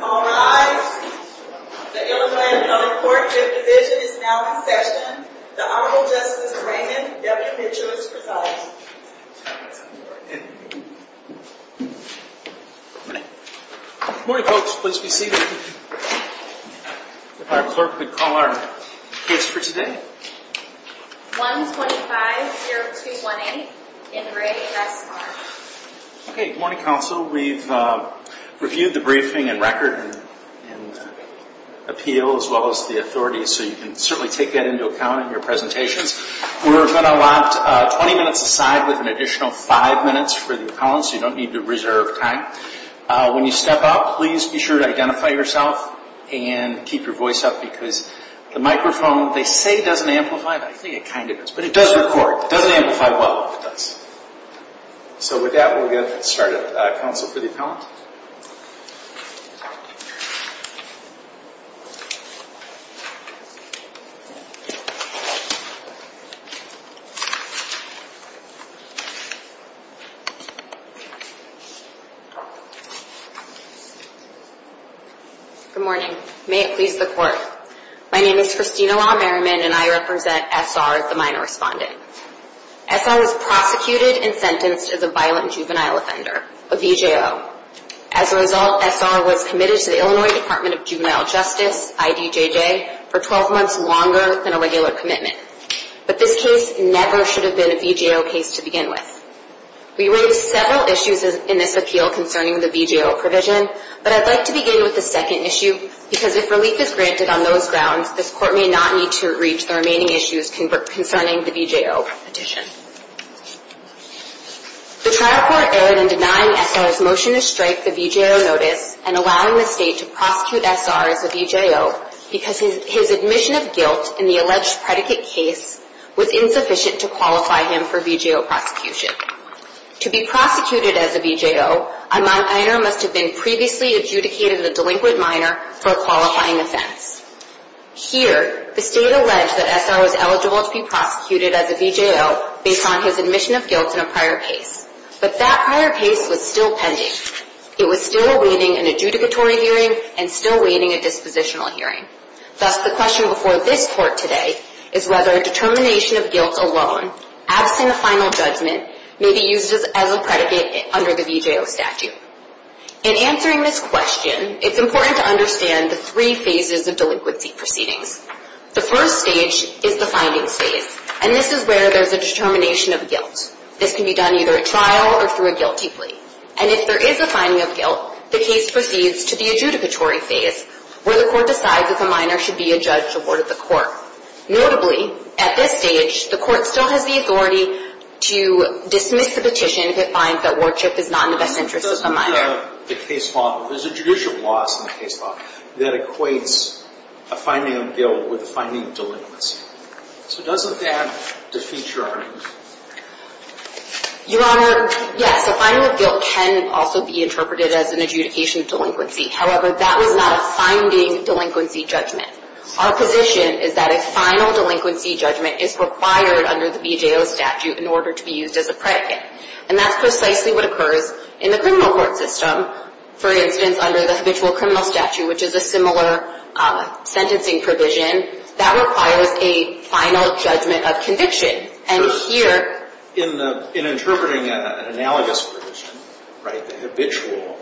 All rise. The Illinois County Courtship Division is now in session. The Honorable Justice Raymond W. Mitchell is presiding. Good morning, folks. Please be seated. If our clerk would call our case for today. 125-0218 in the grade S.R. Good morning, counsel. We've reviewed the briefing and record and appeal as well as the authorities, so you can certainly take that into account in your presentations. We're going to lock 20 minutes aside with an additional 5 minutes for the appellants. You don't need to reserve time. When you step up, please be sure to identify yourself and keep your voice up because the microphone, they say it doesn't amplify, but I think it kind of does. But it does record. It doesn't amplify well, but it does. So with that, we'll get started. Counsel for the appellant. Good morning. May it please the Court. My name is Christina Law Merriman, and I represent S.R. as the minor respondent. S.R. was prosecuted and sentenced as a violent juvenile offender, a VJO. As a result, S.R. was committed to the Illinois Department of Juvenile Justice, IDJJ, for 12 months longer than a regular commitment. But this case never should have been a VJO case to begin with. We raised several issues in this appeal concerning the VJO provision, but I'd like to begin with the second issue because if relief is granted on those grounds, this Court may not need to reach the remaining issues concerning the VJO petition. The trial court erred in denying S.R.'s motion to strike the VJO notice and allowing the State to prosecute S.R. as a VJO because his admission of guilt in the alleged predicate case was insufficient to qualify him for VJO prosecution. To be prosecuted as a VJO, a minor must have been previously adjudicated as a delinquent minor for a qualifying offense. Here, the State alleged that S.R. was eligible to be prosecuted as a VJO based on his admission of guilt in a prior case. But that prior case was still pending. It was still awaiting an adjudicatory hearing and still awaiting a dispositional hearing. Thus, the question before this Court today is whether a determination of guilt alone, absent a final judgment, may be used as a predicate under the VJO statute. In answering this question, it's important to understand the three phases of delinquency proceedings. The first stage is the findings phase, and this is where there's a determination of guilt. This can be done either at trial or through a guilty plea. And if there is a finding of guilt, the case proceeds to the adjudicatory phase, where the Court decides that the minor should be adjudicated to the Court. Notably, at this stage, the Court still has the authority to dismiss the petition if it finds that Wardchip is not in the best interest of the minor. There's a judicial clause in the case law that equates a finding of guilt with a finding of delinquency. So doesn't that defeat your argument? Your Honor, yes, a finding of guilt can also be interpreted as an adjudication of delinquency. However, that was not a finding delinquency judgment. Our position is that a final delinquency judgment is required under the VJO statute in order to be used as a predicate. And that's precisely what occurs in the criminal court system. For instance, under the habitual criminal statute, which is a similar sentencing provision, that requires a final judgment of conviction. In interpreting an analogous provision, the habitual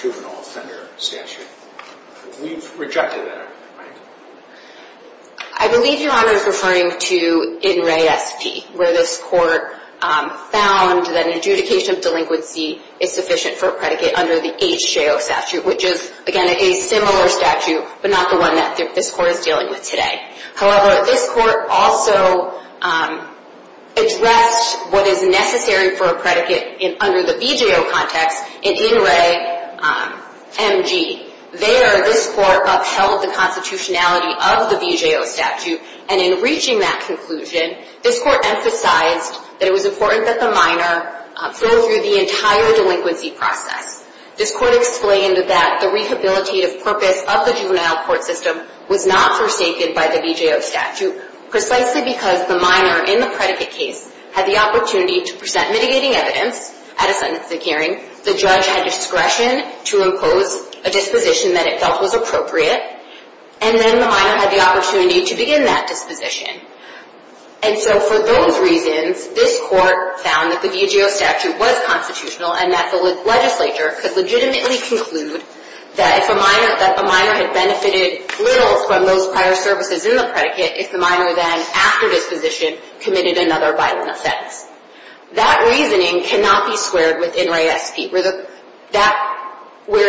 juvenile offender statute, we've rejected that argument, right? I believe Your Honor is referring to In Re Esti, where this Court found that an adjudication of delinquency is sufficient for a predicate under the HJO statute, which is, again, a similar statute, but not the one that this Court is dealing with today. However, this Court also addressed what is necessary for a predicate under the VJO context in In Re Mg. There, this Court upheld the constitutionality of the VJO statute, and in reaching that conclusion, this Court emphasized that it was important that the minor go through the entire delinquency process. This Court explained that the rehabilitative purpose of the juvenile court system was not forsaken by the VJO statute, precisely because the minor in the predicate case had the opportunity to present mitigating evidence at a sentencing hearing, the judge had discretion to impose a disposition that it felt was appropriate, and then the minor had the opportunity to begin that disposition. And so for those reasons, this Court found that the VJO statute was constitutional and that the legislature could legitimately conclude that if a minor had benefited little from those prior services in the predicate, if the minor then, after disposition, committed another violent offense. That reasoning cannot be squared with In Re Esti, where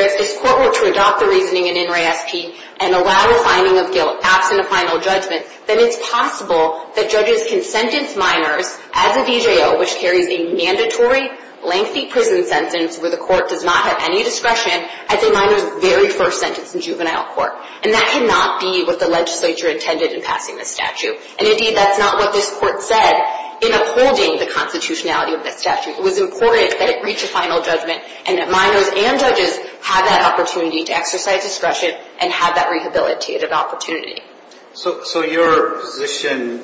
if this Court were to adopt the reasoning in In Re Esti and allow a finding of guilt absent a final judgment, then it's possible that judges can sentence minors as a VJO, which carries a mandatory lengthy prison sentence where the court does not have any discretion, as a minor's very first sentence in juvenile court. And that cannot be what the legislature intended in passing this statute. And indeed, that's not what this Court said in upholding the constitutionality of this statute. It was important that it reach a final judgment and that minors and judges have that opportunity to exercise discretion and have that rehabilitative opportunity. So your position,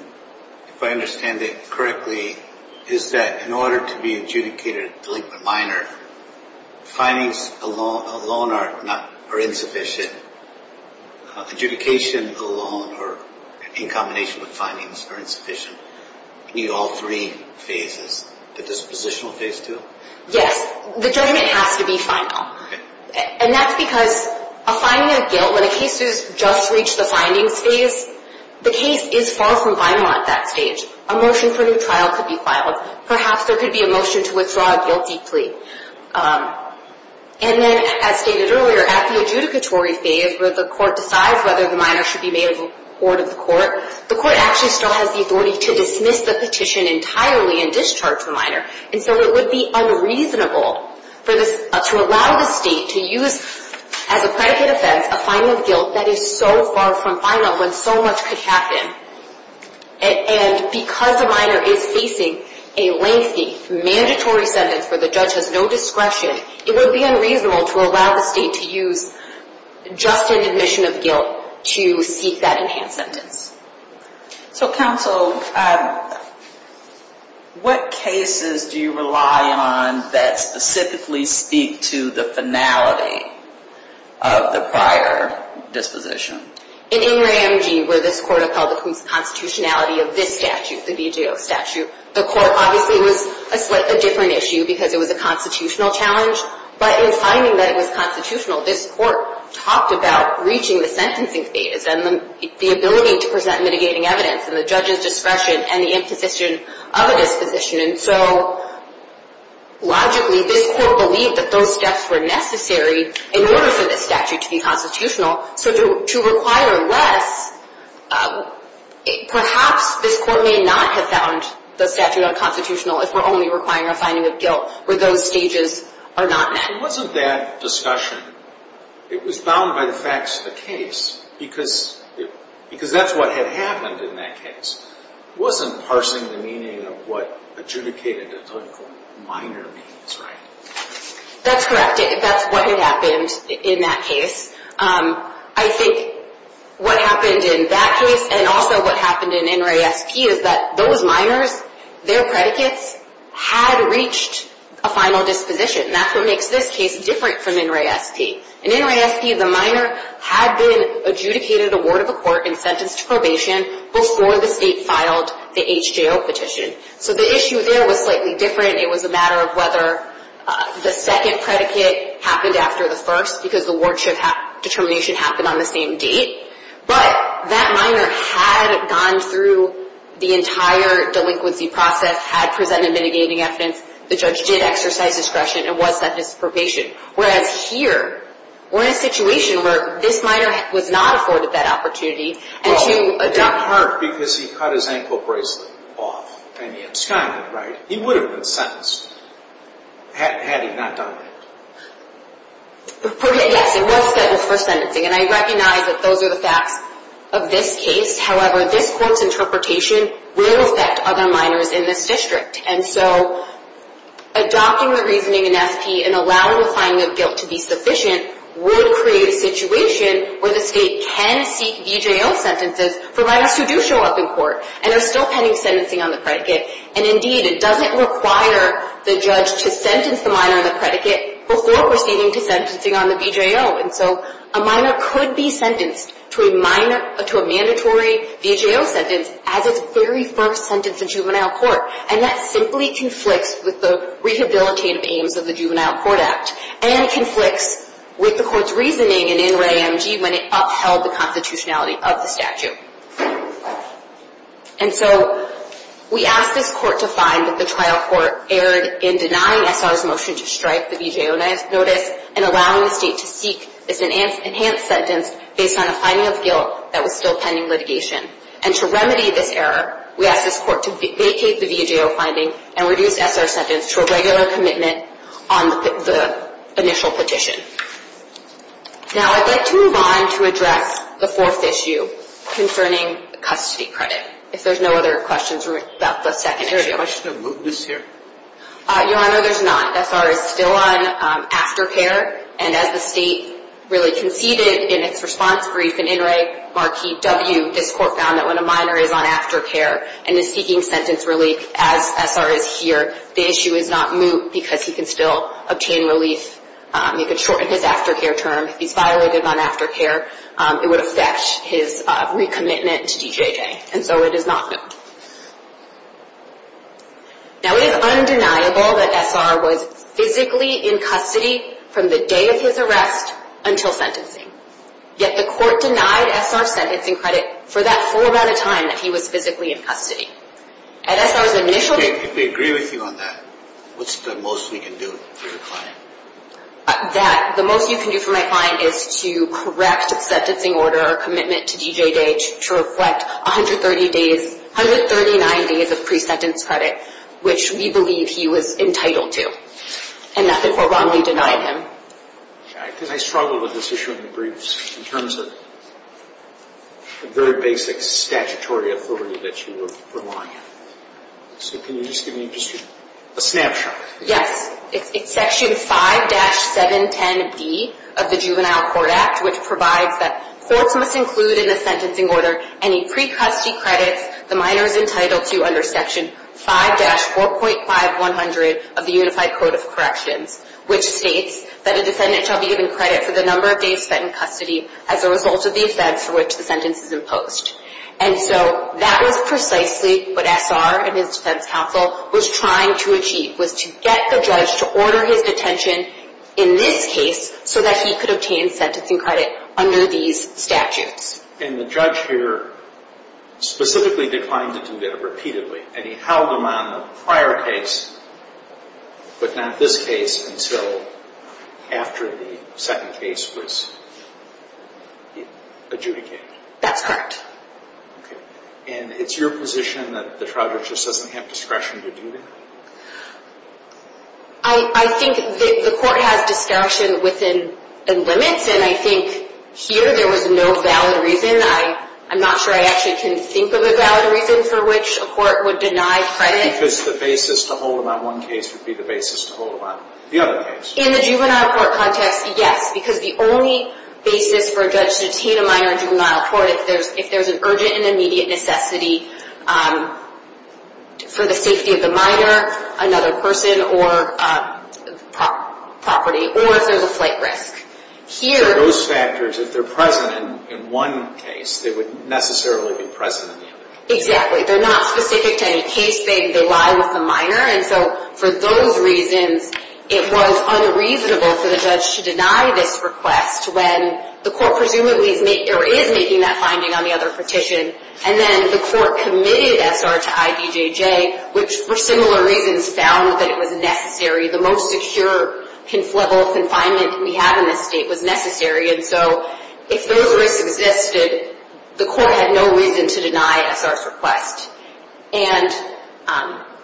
if I understand it correctly, is that in order to be adjudicated a delinquent minor, findings alone are insufficient. Adjudication alone, or in combination with findings, are insufficient. You need all three phases. The dispositional phase too? Yes. The judgment has to be final. And that's because a finding of guilt, when a case has just reached the findings phase, the case is far from final at that stage. A motion for a new trial could be filed. Perhaps there could be a motion to withdraw a guilty plea. And then, as stated earlier, at the adjudicatory phase, where the court decides whether the minor should be made a ward of the court, the court actually still has the authority to dismiss the petition entirely and discharge the minor. And so it would be unreasonable to allow the state to use, as a predicate offense, a finding of guilt that is so far from final when so much could happen. And because the minor is facing a lengthy, mandatory sentence where the judge has no discretion, it would be unreasonable to allow the state to use just an admission of guilt to seek that enhanced sentence. So, counsel, what cases do you rely on that specifically speak to the finality of the prior disposition? In Ingram G., where this court upheld the constitutionality of this statute, the BJO statute, the court obviously was a different issue because it was a constitutional challenge. But in finding that it was constitutional, this court talked about reaching the sentencing phase and the ability to present mitigating evidence and the judge's discretion and the imposition of a disposition. And so, logically, this court believed that those steps were necessary in order for this statute to be constitutional. So to require less, perhaps this court may not have found the statute unconstitutional if we're only requiring a finding of guilt where those stages are not met. It wasn't that discussion. It was bound by the facts of the case because that's what had happened in that case. It wasn't parsing the meaning of what adjudicated a delinquent minor means, right? That's correct. That's what had happened in that case. I think what happened in that case and also what happened in NRASP is that those minors, their predicates had reached a final disposition. And that's what makes this case different from NRASP. In NRASP, the minor had been adjudicated a ward of a court and sentenced to probation before the state filed the HJO petition. So the issue there was slightly different. It was a matter of whether the second predicate happened after the first because the ward determination happened on the same date. But that minor had gone through the entire delinquency process, had presented mitigating evidence. The judge did exercise discretion and was sentenced to probation. Whereas here, we're in a situation where this minor was not afforded that opportunity. Well, in part because he cut his ankle bracelet off and he absconded, right? He would have been sentenced had he not done that. Yes, he was sentenced for sentencing. And I recognize that those are the facts of this case. However, this court's interpretation will affect other minors in this district. And so adopting the reasoning in FP and allowing the finding of guilt to be sufficient would create a situation where the state can seek VJO sentences for minors who do show up in court and are still pending sentencing on the predicate. And, indeed, it doesn't require the judge to sentence the minor on the predicate before proceeding to sentencing on the VJO. And so a minor could be sentenced to a mandatory VJO sentence as its very first sentence in juvenile court. And that simply conflicts with the rehabilitative aims of the Juvenile Court Act and conflicts with the court's reasoning in NRAMG when it upheld the constitutionality of the statute. And so we ask this court to find that the trial court erred in denying SR's motion to strike the VJO notice and allowing the state to seek this enhanced sentence based on a finding of guilt that was still pending litigation. And to remedy this error, we ask this court to vacate the VJO finding and reduce SR's sentence to a regular commitment on the initial petition. Now I'd like to move on to address the fourth issue concerning custody credit. If there's no other questions about the second issue. Is there a question of mootness here? Your Honor, there's not. SR is still on aftercare. And as the state really conceded in its response brief in NRAMG, this court found that when a minor is on aftercare and is seeking sentence relief as SR is here, the issue is not moot because he can still obtain relief. He can shorten his aftercare term. If he's violated on aftercare, it would affect his recommitment to DJJ. And so it is not moot. Now it is undeniable that SR was physically in custody from the day of his arrest until sentencing. Yet the court denied SR's sentencing credit for that full amount of time that he was physically in custody. At SR's initial... If we agree with you on that, what's the most we can do for your client? The most you can do for my client is to correct the sentencing order or commitment to DJJ to reflect 139 days of pre-sentence credit, which we believe he was entitled to. And nothing more wrongly denied him. I struggled with this issue in the briefs in terms of the very basic statutory authority that you were relying on. So can you just give me a snapshot? Yes, it's Section 5-710B of the Juvenile Court Act, which provides that courts must include in the sentencing order any pre-custody credits the minor is entitled to under Section 5-4.5100 of the Unified Code of Corrections, which states that a defendant shall be given credit for the number of days spent in custody as a result of the offense for which the sentence is imposed. And so that was precisely what SR and his defense counsel was trying to achieve, was to get the judge to order his detention in this case so that he could obtain sentencing credit under these statutes. And the judge here specifically declined to do that repeatedly, and he held him on the prior case but not this case until after the second case was adjudicated. That's correct. And it's your position that the trial judge just doesn't have discretion to do that? I think the court has discretion within limits, and I think here there was no valid reason. I'm not sure I actually can think of a valid reason for which a court would deny credit. Because the basis to hold him on one case would be the basis to hold him on the other case. In the juvenile court context, yes. Because the only basis for a judge to detain a minor in juvenile court, if there's an urgent and immediate necessity for the safety of the minor, another person, or property, or if there's a flight risk. For those factors, if they're present in one case, they would necessarily be present in the other. Exactly. They're not specific to any case. They lie with the minor, and so for those reasons, it was unreasonable for the judge to deny this request when the court presumably is making that finding on the other petition. And then the court committed SR to IDJJ, which for similar reasons found that it was necessary. The most secure level of confinement we have in this state was necessary, and so if those risks existed, the court had no reason to deny SR's request. And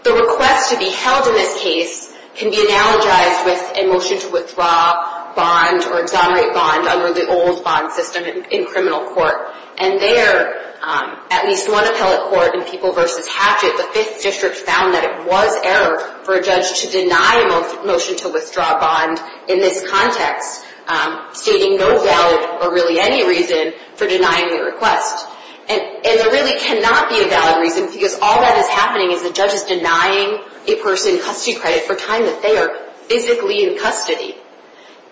the request to be held in this case can be analogized with a motion to withdraw bond or exonerate bond under the old bond system in criminal court. And there, at least one appellate court in People v. Hatchet, the 5th District, found that it was error for a judge to deny a motion to withdraw bond in this context, stating no valid, or really any reason, for denying the request. And there really cannot be a valid reason, because all that is happening is the judge is denying a person custody credit for time that they are physically in custody.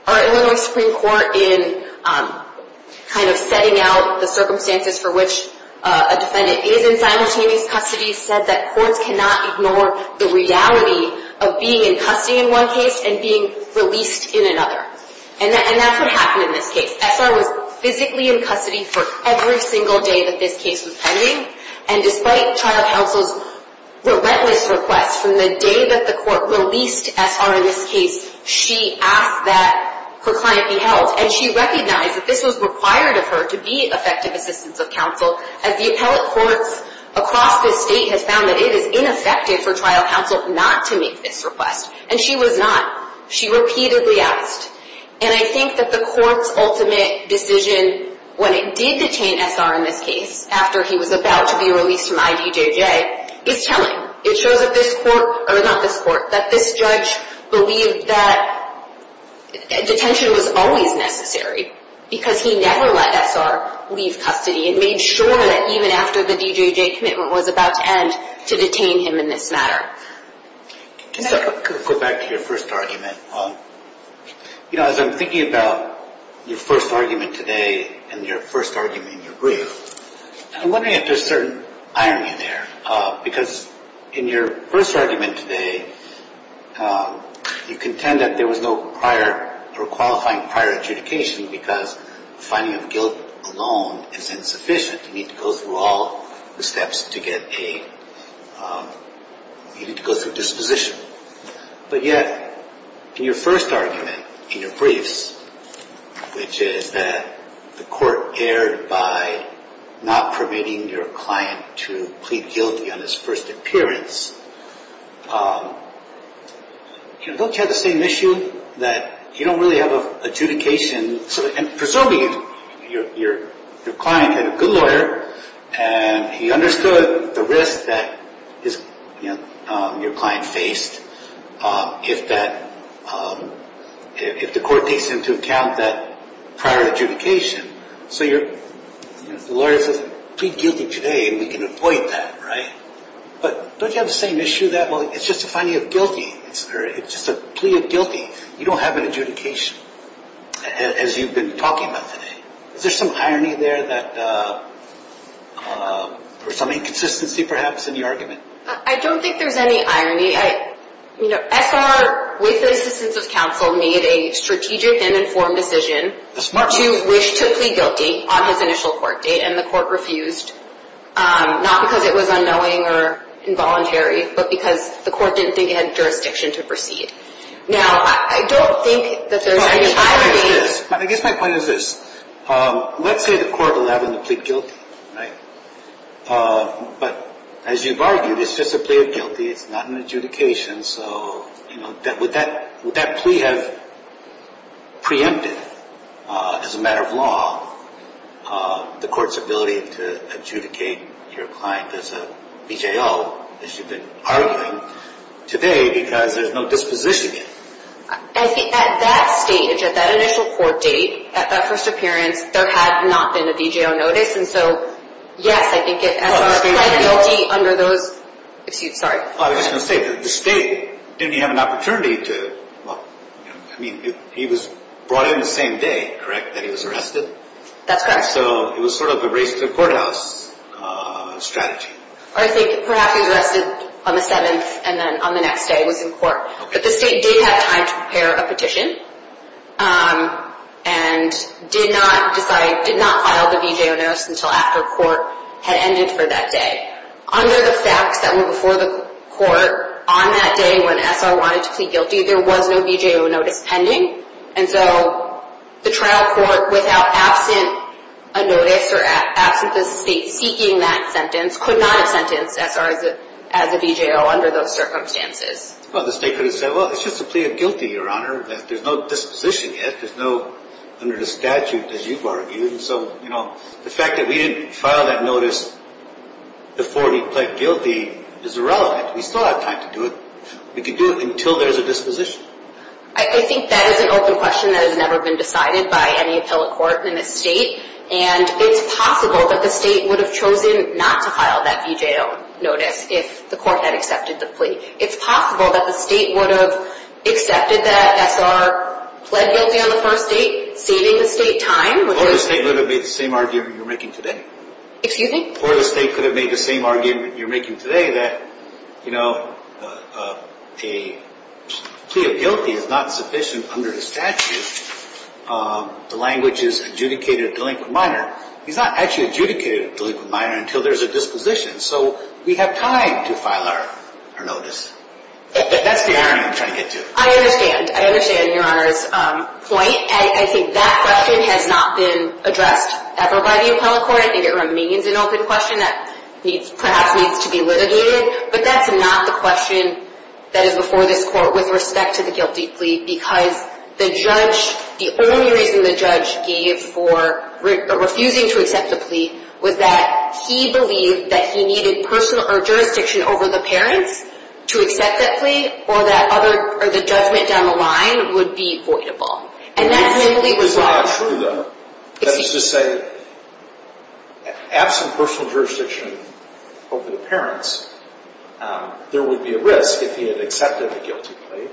Our Illinois Supreme Court, in kind of setting out the circumstances for which a defendant is in simultaneous custody, said that courts cannot ignore the reality of being in custody in one case and being released in another. And that's what happened in this case. SR was physically in custody for every single day that this case was pending, and despite trial counsel's relentless request from the day that the court released SR in this case, she asked that her client be held. And she recognized that this was required of her to be effective assistance of counsel, as the appellate courts across this state have found that it is ineffective for trial counsel not to make this request. And she was not. She repeatedly asked. And I think that the court's ultimate decision when it did detain SR in this case, after he was about to be released from IDJJ, is telling. It shows that this court, or not this court, that this judge believed that detention was always necessary, because he never let SR leave custody and made sure that even after the DJJ commitment was about to end, to detain him in this matter. Can I go back to your first argument? You know, as I'm thinking about your first argument today and your first argument in your brief, I'm wondering if there's certain irony there. Because in your first argument today, you contend that there was no prior or qualifying prior adjudication because finding of guilt alone is insufficient. You need to go through all the steps to get aid. You need to go through disposition. But yet, in your first argument, in your briefs, which is that the court erred by not permitting your client to plead guilty on his first appearance, don't you have the same issue that you don't really have an adjudication? Presumably, your client had a good lawyer, and he understood the risk that your client faced if the court takes into account that prior adjudication. So the lawyer says, plead guilty today, and we can avoid that, right? But don't you have the same issue that, well, it's just a finding of guilty? It's just a plea of guilty. You don't have an adjudication, as you've been talking about today. Is there some irony there or some inconsistency, perhaps, in your argument? I don't think there's any irony. You know, SR, with the assistance of counsel, made a strategic and informed decision to wish to plead guilty on his initial court date, and the court refused, not because it was unknowing or involuntary, but because the court didn't think it had jurisdiction to proceed. Now, I don't think that there's any irony. I guess my point is this. Let's say the court will have him to plead guilty, right? But as you've argued, it's just a plea of guilty. It's not an adjudication. So, you know, would that plea have preempted, as a matter of law, the court's ability to adjudicate your client as a VJO, as you've been arguing today, because there's no disposition yet? I think at that stage, at that initial court date, at that first appearance, there had not been a VJO notice. And so, yes, I think SR pleaded guilty under those – excuse me, sorry. I was just going to say, the state, didn't he have an opportunity to – I mean, he was brought in the same day, correct, that he was arrested? That's correct. So it was sort of a race to the courthouse strategy. I think perhaps he was arrested on the 7th and then on the next day was in court. But the state did have time to prepare a petition and did not file the VJO notice until after court had ended for that day. Under the facts that were before the court on that day when SR wanted to plead guilty, there was no VJO notice pending. And so the trial court, without absent a notice or absent the state seeking that sentence, could not have sentenced SR as a VJO under those circumstances. Well, the state could have said, well, it's just a plea of guilty, Your Honor. There's no disposition yet. There's no – under the statute, as you've argued. And so, you know, the fact that we didn't file that notice before he pled guilty is irrelevant. We still have time to do it. We could do it until there's a disposition. I think that is an open question that has never been decided by any appellate court in this state. And it's possible that the state would have chosen not to file that VJO notice if the court had accepted the plea. It's possible that the state would have accepted that SR pled guilty on the first date, saving the state time. Or the state would have made the same argument you're making today. Excuse me? Or the state could have made the same argument you're making today that, you know, a plea of guilty is not sufficient under the statute. The language is adjudicated delinquent minor. He's not actually adjudicated delinquent minor until there's a disposition. So we have time to file our notice. That's the irony I'm trying to get to. I understand. I understand Your Honor's point. I think that question has not been addressed ever by the appellate court. I think it remains an open question that perhaps needs to be litigated. But that's not the question that is before this court with respect to the guilty plea. Because the judge, the only reason the judge gave for refusing to accept the plea was that he believed that he needed personal or jurisdiction over the parents to accept that plea. Or that other, or the judgment down the line would be voidable. And that simply was wrong. That is to say, absent personal jurisdiction over the parents, there would be a risk if he had accepted the guilty plea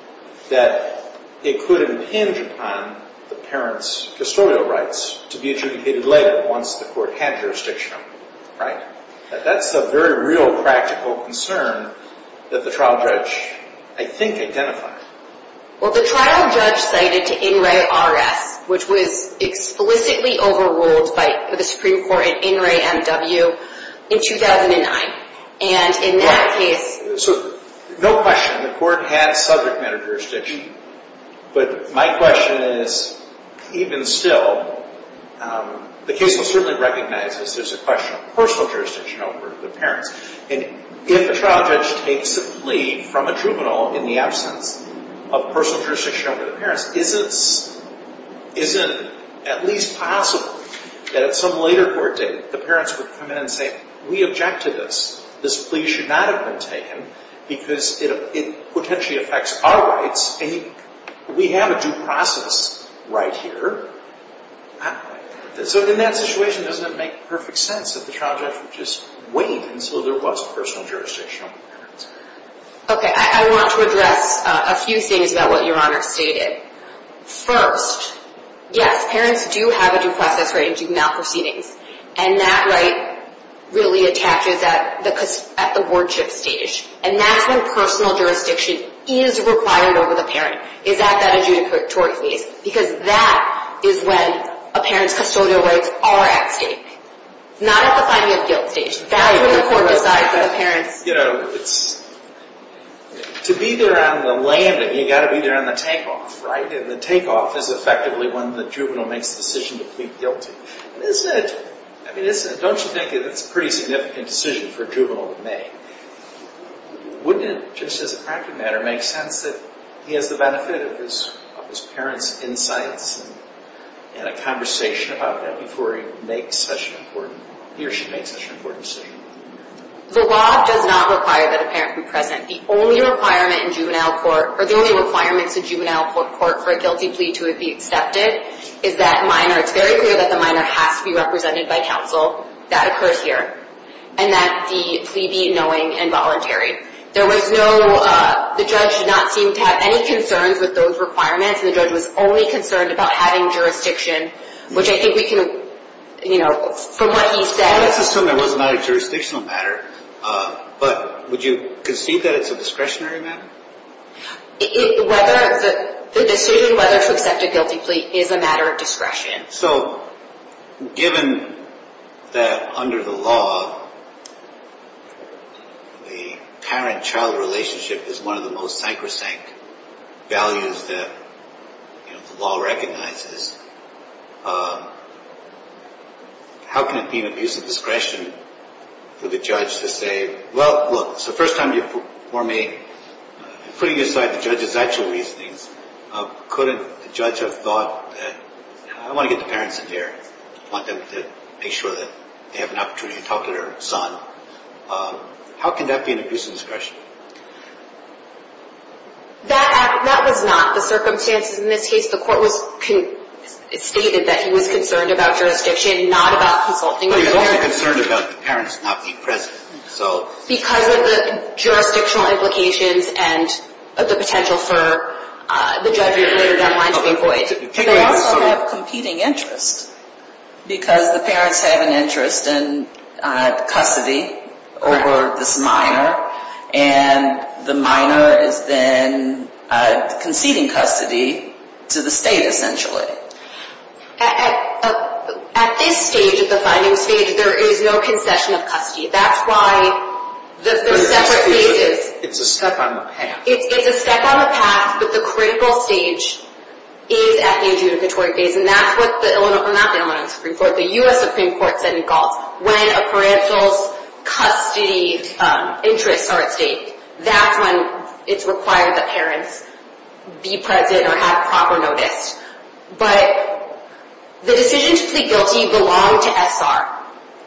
that it could impinge upon the parents' custodial rights to be adjudicated later once the court had jurisdiction over them. Right? That's a very real practical concern that the trial judge, I think, identified. Well, the trial judge cited to In Re R.S., which was explicitly overruled by the Supreme Court in In Re M.W. in 2009. And in that case... So, no question, the court had subject matter jurisdiction. But my question is, even still, the case will certainly recognize that there's a question of personal jurisdiction over the parents. And if a trial judge takes a plea from a juvenile in the absence of personal jurisdiction over the parents, is it at least possible that at some later court date the parents would come in and say, we object to this. This plea should not have been taken because it potentially affects our rights. And we have a due process right here. So, in that situation, doesn't it make perfect sense that the trial judge would just wait until there was personal jurisdiction over the parents? Okay, I want to address a few things about what Your Honor stated. First, yes, parents do have a due process right and do not have proceedings. And that right really attaches at the worship stage. And that's when personal jurisdiction is required over the parent, is at that adjudicatory case. Because that is when a parent's custodial rights are at stake. Not at the finding of guilt stage. That's when the court decides that the parents... You know, it's... To be there on the landing, you've got to be there on the takeoff, right? And the takeoff is effectively when the juvenile makes the decision to plead guilty. And isn't it... I mean, don't you think that's a pretty significant decision for a juvenile to make? Wouldn't it, just as a practical matter, make sense that he has the benefit of his parents' insights and a conversation about that before he makes such an important... He or she makes such an important decision? The law does not require that a parent be present. The only requirement in juvenile court... Or the only requirements in juvenile court for a guilty plea to be accepted is that minor... It's very clear that the minor has to be represented by counsel. That occurs here. And that the plea be knowing and voluntary. There was no... The judge did not seem to have any concerns with those requirements. And the judge was only concerned about having jurisdiction, which I think we can... You know, from what he said... Let's assume it was not a jurisdictional matter. But would you concede that it's a discretionary matter? Whether... The decision whether to accept a guilty plea is a matter of discretion. So, given that under the law, the parent-child relationship is one of the most sacrosanct values that the law recognizes, how can it be an abuse of discretion for the judge to say, Well, look, it's the first time you've performed a... Putting aside the judge's actual reasonings, couldn't the judge have thought that, I want to get the parents in there. I want them to make sure that they have an opportunity to talk to their son. How can that be an abuse of discretion? That was not the circumstances in this case. The court stated that he was concerned about jurisdiction, not about consulting with the lawyer. But he was also concerned about the parents not being present, so... Because of the jurisdictional implications and the potential for the judge's later deadline to be void. Do they also have competing interests? Because the parents have an interest in custody over this minor, and the minor is then conceding custody to the state, essentially. At this stage, at the finding stage, there is no concession of custody. That's why the separate phases... It's a step on the path. It's a step on the path, but the critical stage is at the adjudicatory phase. And that's what the Illinois, not the Illinois Supreme Court, the U.S. Supreme Court said in Galt, when a parental's custody interests are at stake, that's when it's required that parents be present or have proper notice. But the decision to plead guilty belonged to SR,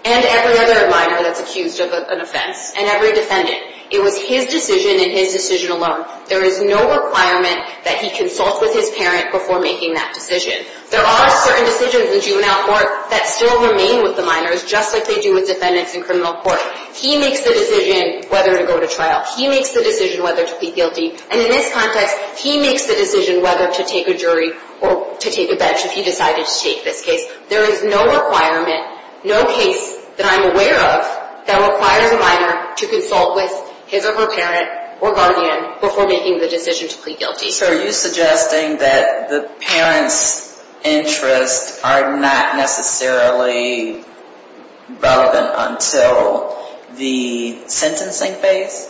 and every other minor that's accused of an offense, and every defendant. It was his decision and his decision alone. There is no requirement that he consult with his parent before making that decision. There are certain decisions in juvenile court that still remain with the minors, just like they do with defendants in criminal court. He makes the decision whether to go to trial. He makes the decision whether to plead guilty. And in this context, he makes the decision whether to take a jury or to take a bench if he decided to take this case. There is no requirement, no case that I'm aware of, that requires a minor to consult with his or her parent or guardian before making the decision to plead guilty. So are you suggesting that the parent's interests are not necessarily relevant until the sentencing phase?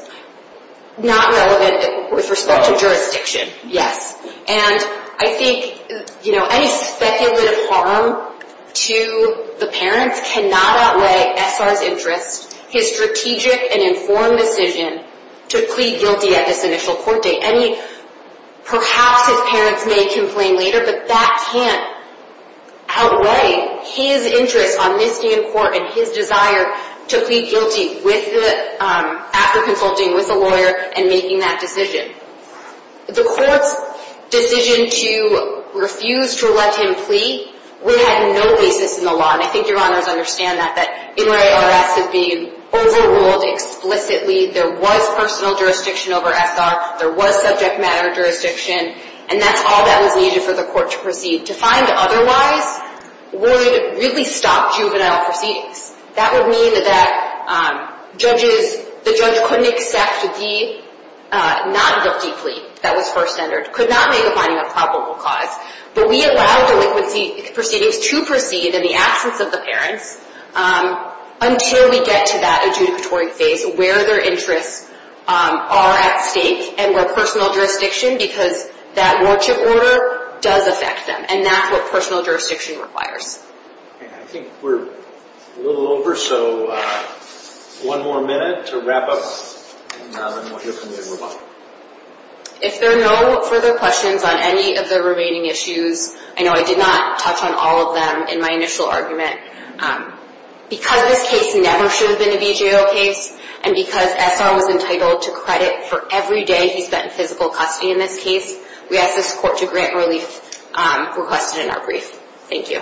Not relevant with respect to jurisdiction, yes. And I think any speculative harm to the parents cannot outweigh SR's interest, his strategic and informed decision to plead guilty at this initial court date. Perhaps his parents may complain later, but that can't outweigh his interest on this new court and his desire to plead guilty after consulting with the lawyer and making that decision. The court's decision to refuse to let him plead would have no basis in the law, and I think your honors understand that, that NRARS is being overruled explicitly. There was personal jurisdiction over SR. There was subject matter jurisdiction, and that's all that was needed for the court to proceed. To find otherwise would really stop juvenile proceedings. That would mean that the judge couldn't accept the non-guilty plea that was first entered, could not make a finding of probable cause. But we allow delinquency proceedings to proceed in the absence of the parents until we get to that adjudicatory phase where their interests are at stake and where personal jurisdiction, because that warchip order does affect them, and that's what personal jurisdiction requires. I think we're a little over, so one more minute to wrap up, and then we'll hear from you and move on. If there are no further questions on any of the remaining issues, I know I did not touch on all of them in my initial argument. Because this case never should have been a BJO case, and because SR was entitled to credit for every day he spent in physical custody in this case, we ask this court to grant relief requested in our brief. Thank you.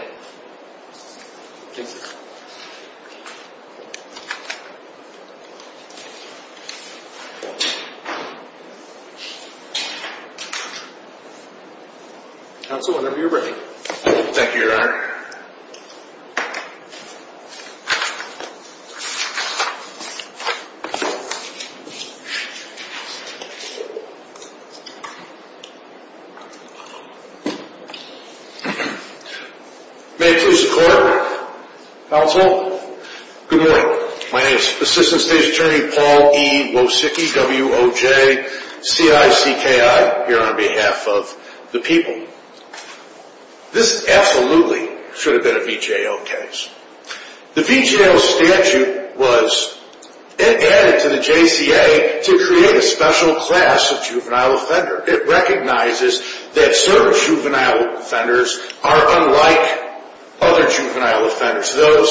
Counsel, whenever you're ready. Thank you, Your Honor. May it please the Court. Counsel. Good morning. My name is Assistant State's Attorney Paul E. Wozicki, W-O-J-C-I-C-K-I, here on behalf of the people. This absolutely should have been a BJO case. The BJO statute was as follows. It added to the JCA to create a special class of juvenile offender. It recognizes that certain juvenile offenders are unlike other juvenile offenders. Those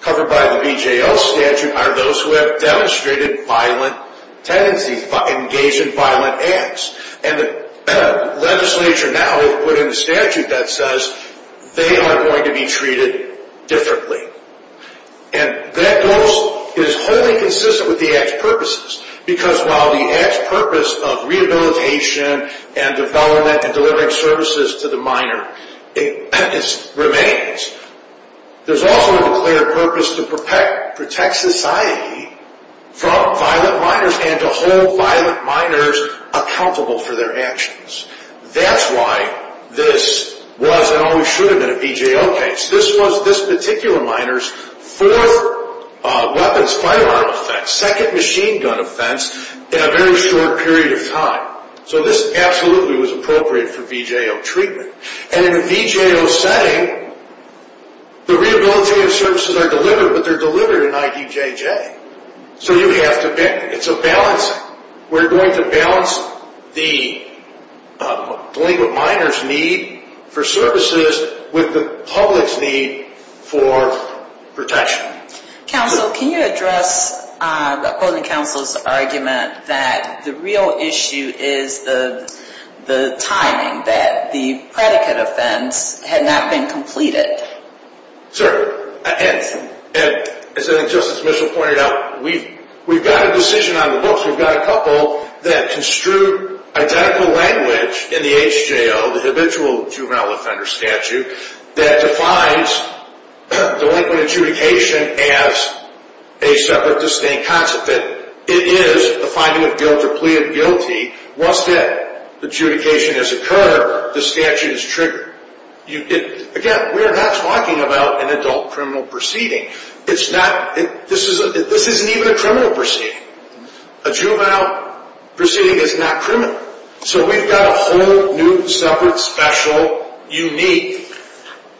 covered by the BJO statute are those who have demonstrated violent tendencies, engaged in violent acts. And the legislature now has put in the statute that says they are going to be treated differently. And that is wholly consistent with the act's purposes, because while the act's purpose of rehabilitation and development and delivering services to the minor remains, there's also a declared purpose to protect society from violent minors and to hold violent minors accountable for their actions. That's why this was and always should have been a BJO case. This was this particular minor's fourth weapons firearm offense, second machine gun offense in a very short period of time. So this absolutely was appropriate for BJO treatment. And in a BJO setting, the rehabilitative services are delivered, but they're delivered in IDJJ. So you have to balance. It's a balancing. We're going to balance the delinquent minor's need for services with the public's need for protection. Counsel, can you address the opposing counsel's argument that the real issue is the timing, that the predicate offense had not been completed? Sir, as Justice Mitchell pointed out, we've got a decision on the books. We've got a couple that construed identical language in the HJO, the habitual juvenile offender statute, that defines delinquent adjudication as a separate distinct concept. It is a finding of guilt or plea of guilty. Once that adjudication has occurred, the statute is triggered. Again, we are not talking about an adult criminal proceeding. This isn't even a criminal proceeding. A juvenile proceeding is not criminal. So we've got a whole new, separate, special, unique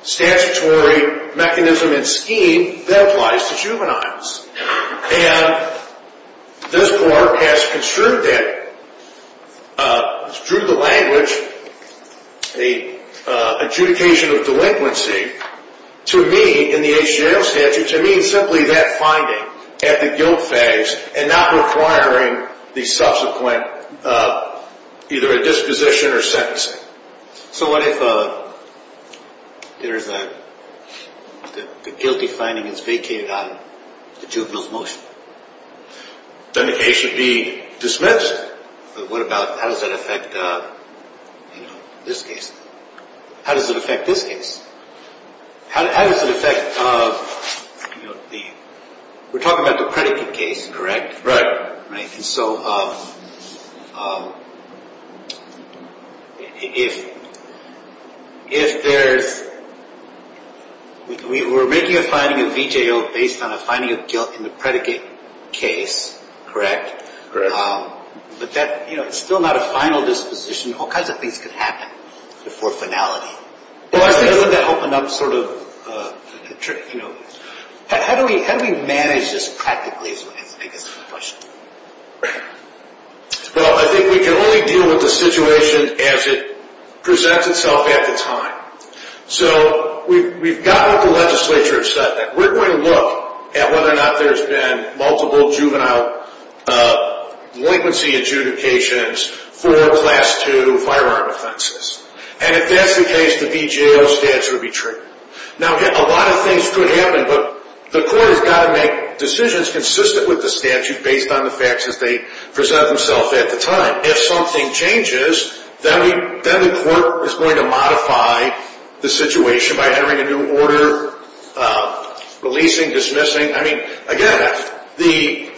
statutory mechanism and scheme that applies to juveniles. And this court has construed that, drew the language, the adjudication of delinquency to me in the HJO statute to mean simply that finding at the guilt phase and not requiring the subsequent either a disposition or sentencing. So what if the guilty finding is vacated on the juvenile's motion? Then the case should be dismissed. But what about, how does that affect this case? How does it affect this case? How does it affect the, we're talking about the predicate case, correct? Right. And so if there's, we're making a finding of VJO based on a finding of guilt in the predicate case, correct? Correct. But that, you know, it's still not a final disposition. All kinds of things could happen before finality. Well, I think that's enough sort of trick, you know. How do we manage this practically, I guess is the question. Well, I think we can only deal with the situation as it presents itself at the time. So we've gotten what the legislature has said. We're going to look at whether or not there's been multiple juvenile delinquency adjudications for Class II firearm offenses. And if that's the case, the VJO statute would be triggered. Now, a lot of things could happen, but the court has got to make decisions consistent with the statute based on the facts as they present themselves at the time. If something changes, then the court is going to modify the situation by entering a new order, releasing, dismissing. I mean, again, the...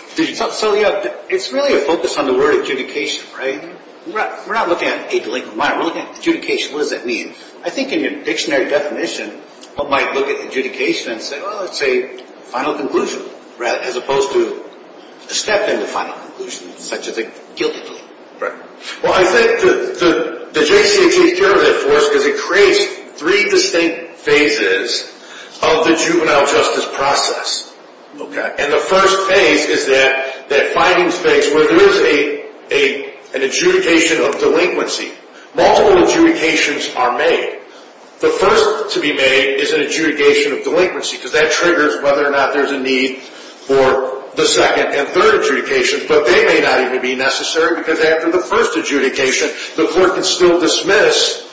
So, yeah, it's really a focus on the word adjudication, right? We're not looking at a delinquent minor. We're looking at adjudication. What does that mean? I think in your dictionary definition, one might look at adjudication and say, well, it's a final conclusion as opposed to a step in the final conclusion, such as a guilty delinquent. Right. Well, I think the JCA takes care of that for us because it creates three distinct phases of the juvenile justice process. Okay. And the first phase is that finding space where there is an adjudication of delinquency. Multiple adjudications are made. The first to be made is an adjudication of delinquency because that triggers whether or not there's a need for the second and third adjudication, but they may not even be necessary because after the first adjudication, the court can still dismiss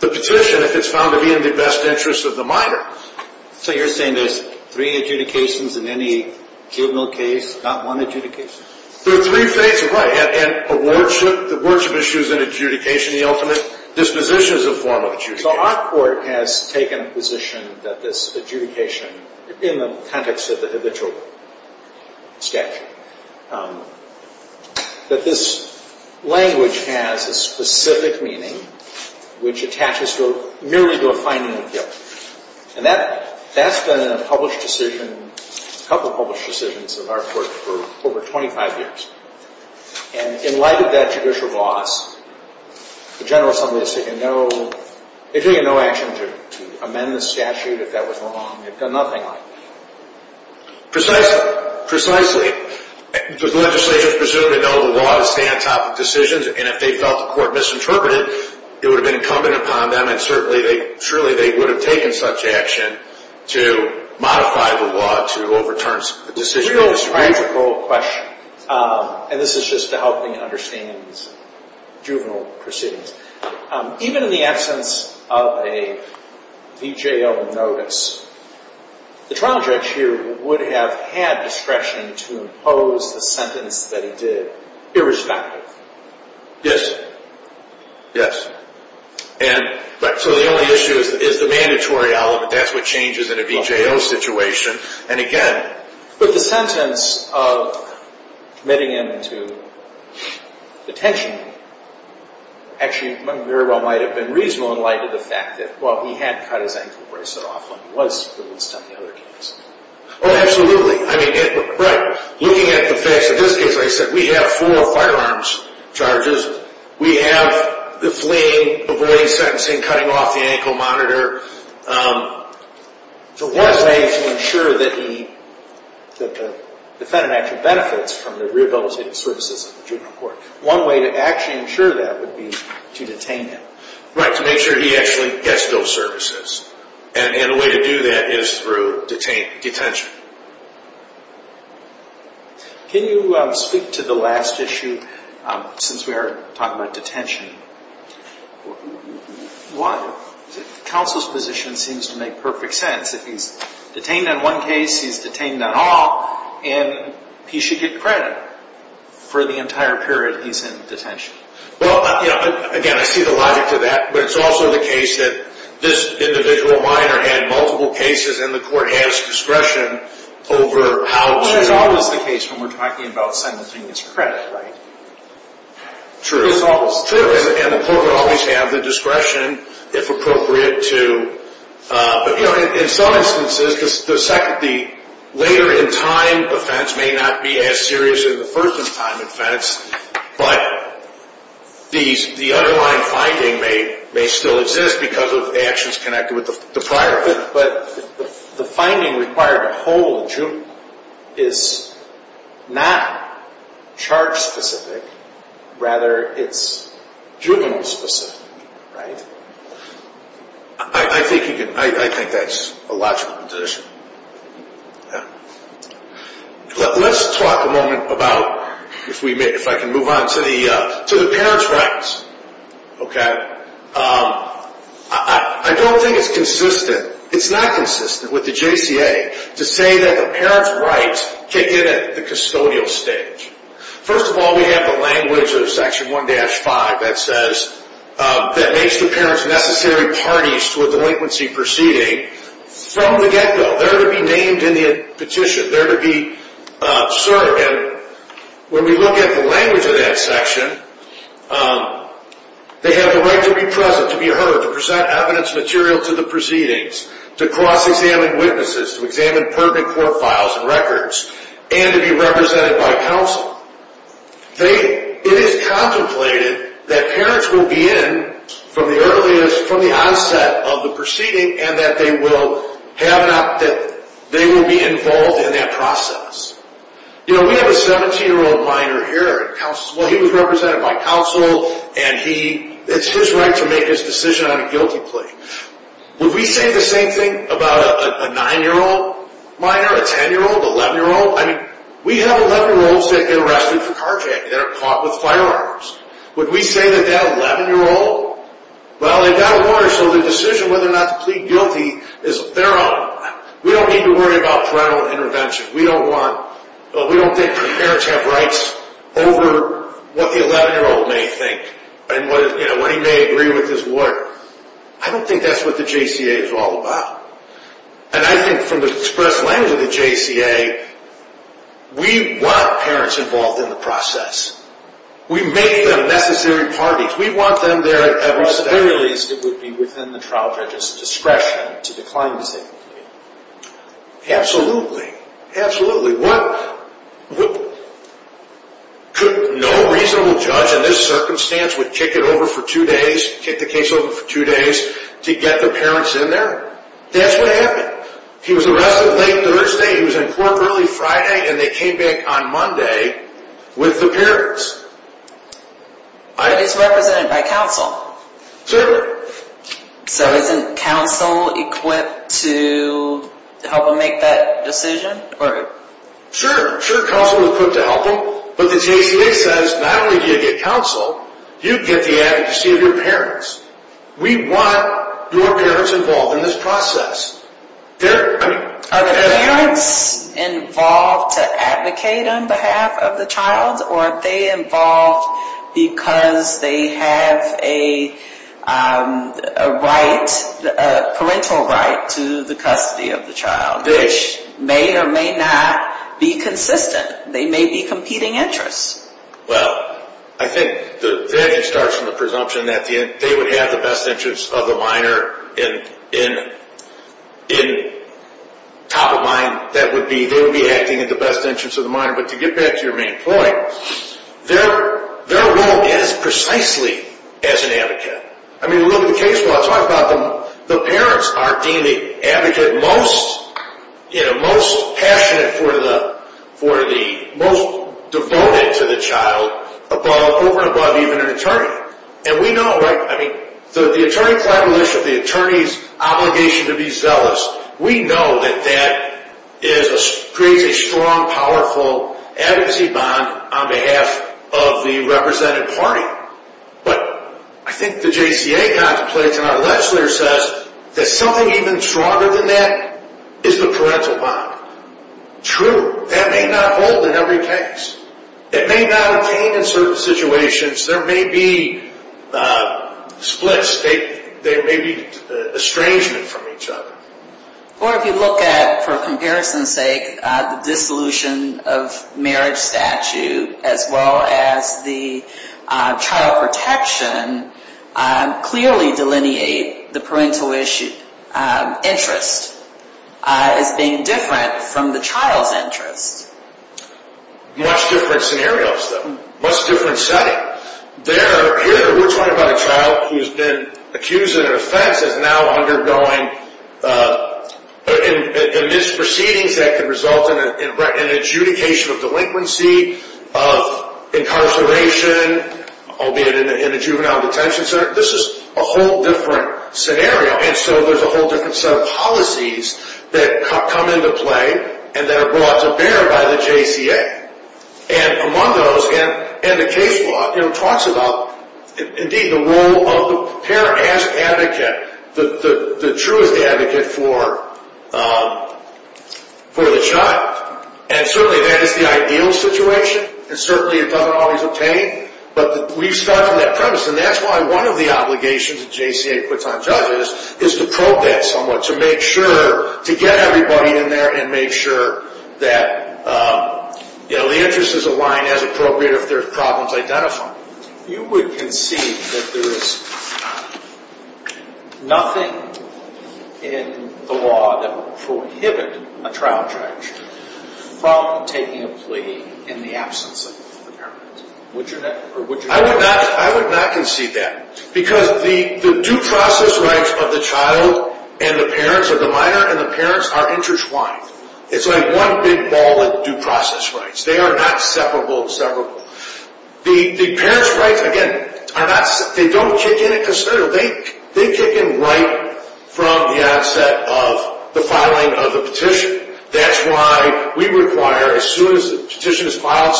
the petition if it's found to be in the best interest of the minor. So you're saying there's three adjudications in any juvenile case, not one adjudication? There are three phases. Right. And a wardship issue is an adjudication, the ultimate disposition is a form of adjudication. So our court has taken a position that this adjudication, in the context of the habitual statute, that this language has a specific meaning which attaches merely to a finding of guilt. And that's been in a published decision, a couple of published decisions of our court for over 25 years. And in light of that judicial gloss, the General Assembly has taken no action to amend the statute if that was wrong. It's done nothing like that. Precisely. The legislature is presumed to know the law to stand on top of decisions, and if they felt the court misinterpreted, it would have been incumbent upon them, and surely they would have taken such action to modify the law to overturn the decision. Real tragical question, and this is just to help me understand these juvenile proceedings. Even in the absence of a VJO notice, the trial judge here would have had discretion to impose the sentence that he did, irrespective. Yes. Yes. And so the only issue is the mandatory element. That's what changes in a VJO situation. But the sentence of committing him to detention actually very well might have been reasonable in light of the fact that, well, he had cut his ankle bracelet off when he was released on the other case. Oh, absolutely. I mean, right. Looking at the facts, in this case, like I said, we have four firearms charges. We have the fleeing, avoiding sentencing, cutting off the ankle monitor. The law is made to ensure that the defendant actually benefits from the rehabilitative services of the juvenile court. One way to actually ensure that would be to detain him. Right, to make sure he actually gets those services. And a way to do that is through detention. Can you speak to the last issue, since we are talking about detention? What? Counsel's position seems to make perfect sense, that he's detained on one case, he's detained on all, and he should get credit for the entire period he's in detention. Well, again, I see the logic to that, but it's also the case that this individual minor had multiple cases, and the court has discretion over how to... But it's always the case when we're talking about sentencing, it's credit, right? True. And the court would always have the discretion, if appropriate, to... But, you know, in some instances, the later-in-time offense may not be as serious as the first-in-time offense, but the underlying finding may still exist because of actions connected with the prior offense. But the finding required to hold juvenile is not charge-specific, rather it's juvenile-specific, right? I think that's a logical position. Let's talk a moment about, if I can move on, to the parents' rights. Okay? I don't think it's consistent, it's not consistent with the JCA, to say that the parents' rights kick in at the custodial stage. First of all, we have the language of Section 1-5 that says, that makes the parents necessary parties to a delinquency proceeding from the get-go. They're to be named in the petition, they're to be served. When we look at the language of that section, they have the right to be present, to be heard, to present evidence material to the proceedings, to cross-examine witnesses, to examine pertinent court files and records, and to be represented by counsel. It is contemplated that parents will be in from the onset of the proceeding, and that they will be involved in that process. You know, we have a 17-year-old minor here, and he was represented by counsel, and it's his right to make his decision on a guilty plea. Would we say the same thing about a 9-year-old minor, a 10-year-old, an 11-year-old? I mean, we have 11-year-olds that get arrested for carjacking, that are caught with firearms. Would we say that they have an 11-year-old? Well, they've got a warrant, so their decision whether or not to plead guilty is their own. We don't need to worry about parental intervention. We don't think parents have rights over what the 11-year-old may think, and what he may agree with his lawyer. I don't think that's what the JCA is all about. And I think from the express language of the JCA, we want parents involved in the process. We make them necessary parties. We want them there at every step. At the very least, it would be within the trial judge's discretion to decline to say the plea. Absolutely. Absolutely. No reasonable judge in this circumstance would kick it over for two days, kick the case over for two days to get the parents in there. That's what happened. He was arrested late Thursday, he was in court early Friday, and they came back on Monday with the parents. But he's represented by counsel. Certainly. So isn't counsel equipped to help him make that decision? Sure. Sure, counsel is equipped to help him. But the JCA says not only do you get counsel, you get the advocacy of your parents. We want your parents involved in this process. Are the parents involved to advocate on behalf of the child, or are they involved because they have a parental right to the custody of the child, which may or may not be consistent. They may be competing interests. Well, I think the advantage starts from the presumption that they would have the best interest of the minor. And top of mind, they would be acting at the best interest of the minor. But to get back to your main point, they're wrong as precisely as an advocate. I mean, look at the case where I talk about the parents are deemed the advocate most passionate for the, most devoted to the child, above, over and above even an attorney. And we know, I mean, the attorney's obligation to be zealous, we know that that creates a strong, powerful advocacy bond on behalf of the represented party. But I think the JCA contemplates and our legislator says that something even stronger than that is the parental bond. True, that may not hold in every case. It may not obtain in certain situations. There may be splits. There may be estrangement from each other. Or if you look at, for comparison's sake, the dissolution of marriage statute, as well as the child protection, clearly delineate the parental interest as being different from the child's interest. Much different scenarios. Much different setting. There, here, we're talking about a child who's been accused in an offense, is now undergoing misproceedings that can result in an adjudication of delinquency, of incarceration, albeit in a juvenile detention center. This is a whole different scenario. And so there's a whole different set of policies that come into play and that are brought to bear by the JCA. And among those, and the case law talks about, indeed, the role of the parent as advocate, the truest advocate for the child. And certainly that is the ideal situation, and certainly it doesn't always obtain. But we start from that premise. And that's why one of the obligations that JCA puts on judges is to probe that somewhat, to make sure to get everybody in there and make sure that, you know, the interests align as appropriate if there are problems identified. You would concede that there is nothing in the law that would prohibit a trial judge from taking a plea in the absence of the parent. I would not concede that. Because the due process rights of the child and the parents, or the minor and the parents, are intertwined. It's like one big ball of due process rights. They are not separable and severable. The parents' rights, again, they don't kick in at considerable. They kick in right from the onset of the filing of the petition. That's why we require, as soon as the petition is filed,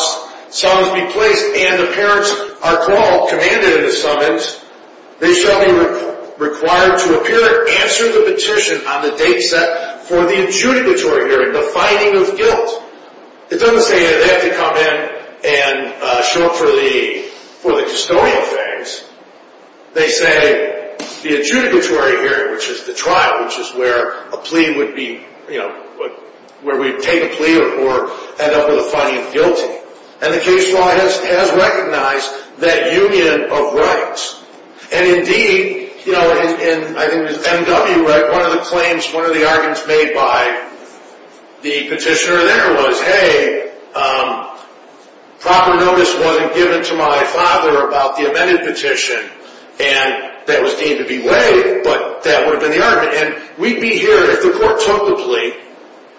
summons be placed, and the parents are called, commanded in the summons, they shall be required to appear and answer the petition on the date set for the adjudicatory hearing, the finding of guilt. It doesn't say they have to come in and show up for the custodial phase. They say the adjudicatory hearing, which is the trial, which is where a plea would be, where we would take a plea or end up with a finding of guilty. And the case law has recognized that union of rights. And indeed, I think it was MW, one of the claims, one of the arguments made by the petitioner there was, hey, proper notice wasn't given to my father about the amended petition, and that was deemed to be way, but that would have been the argument. And we'd be here if the court took the plea,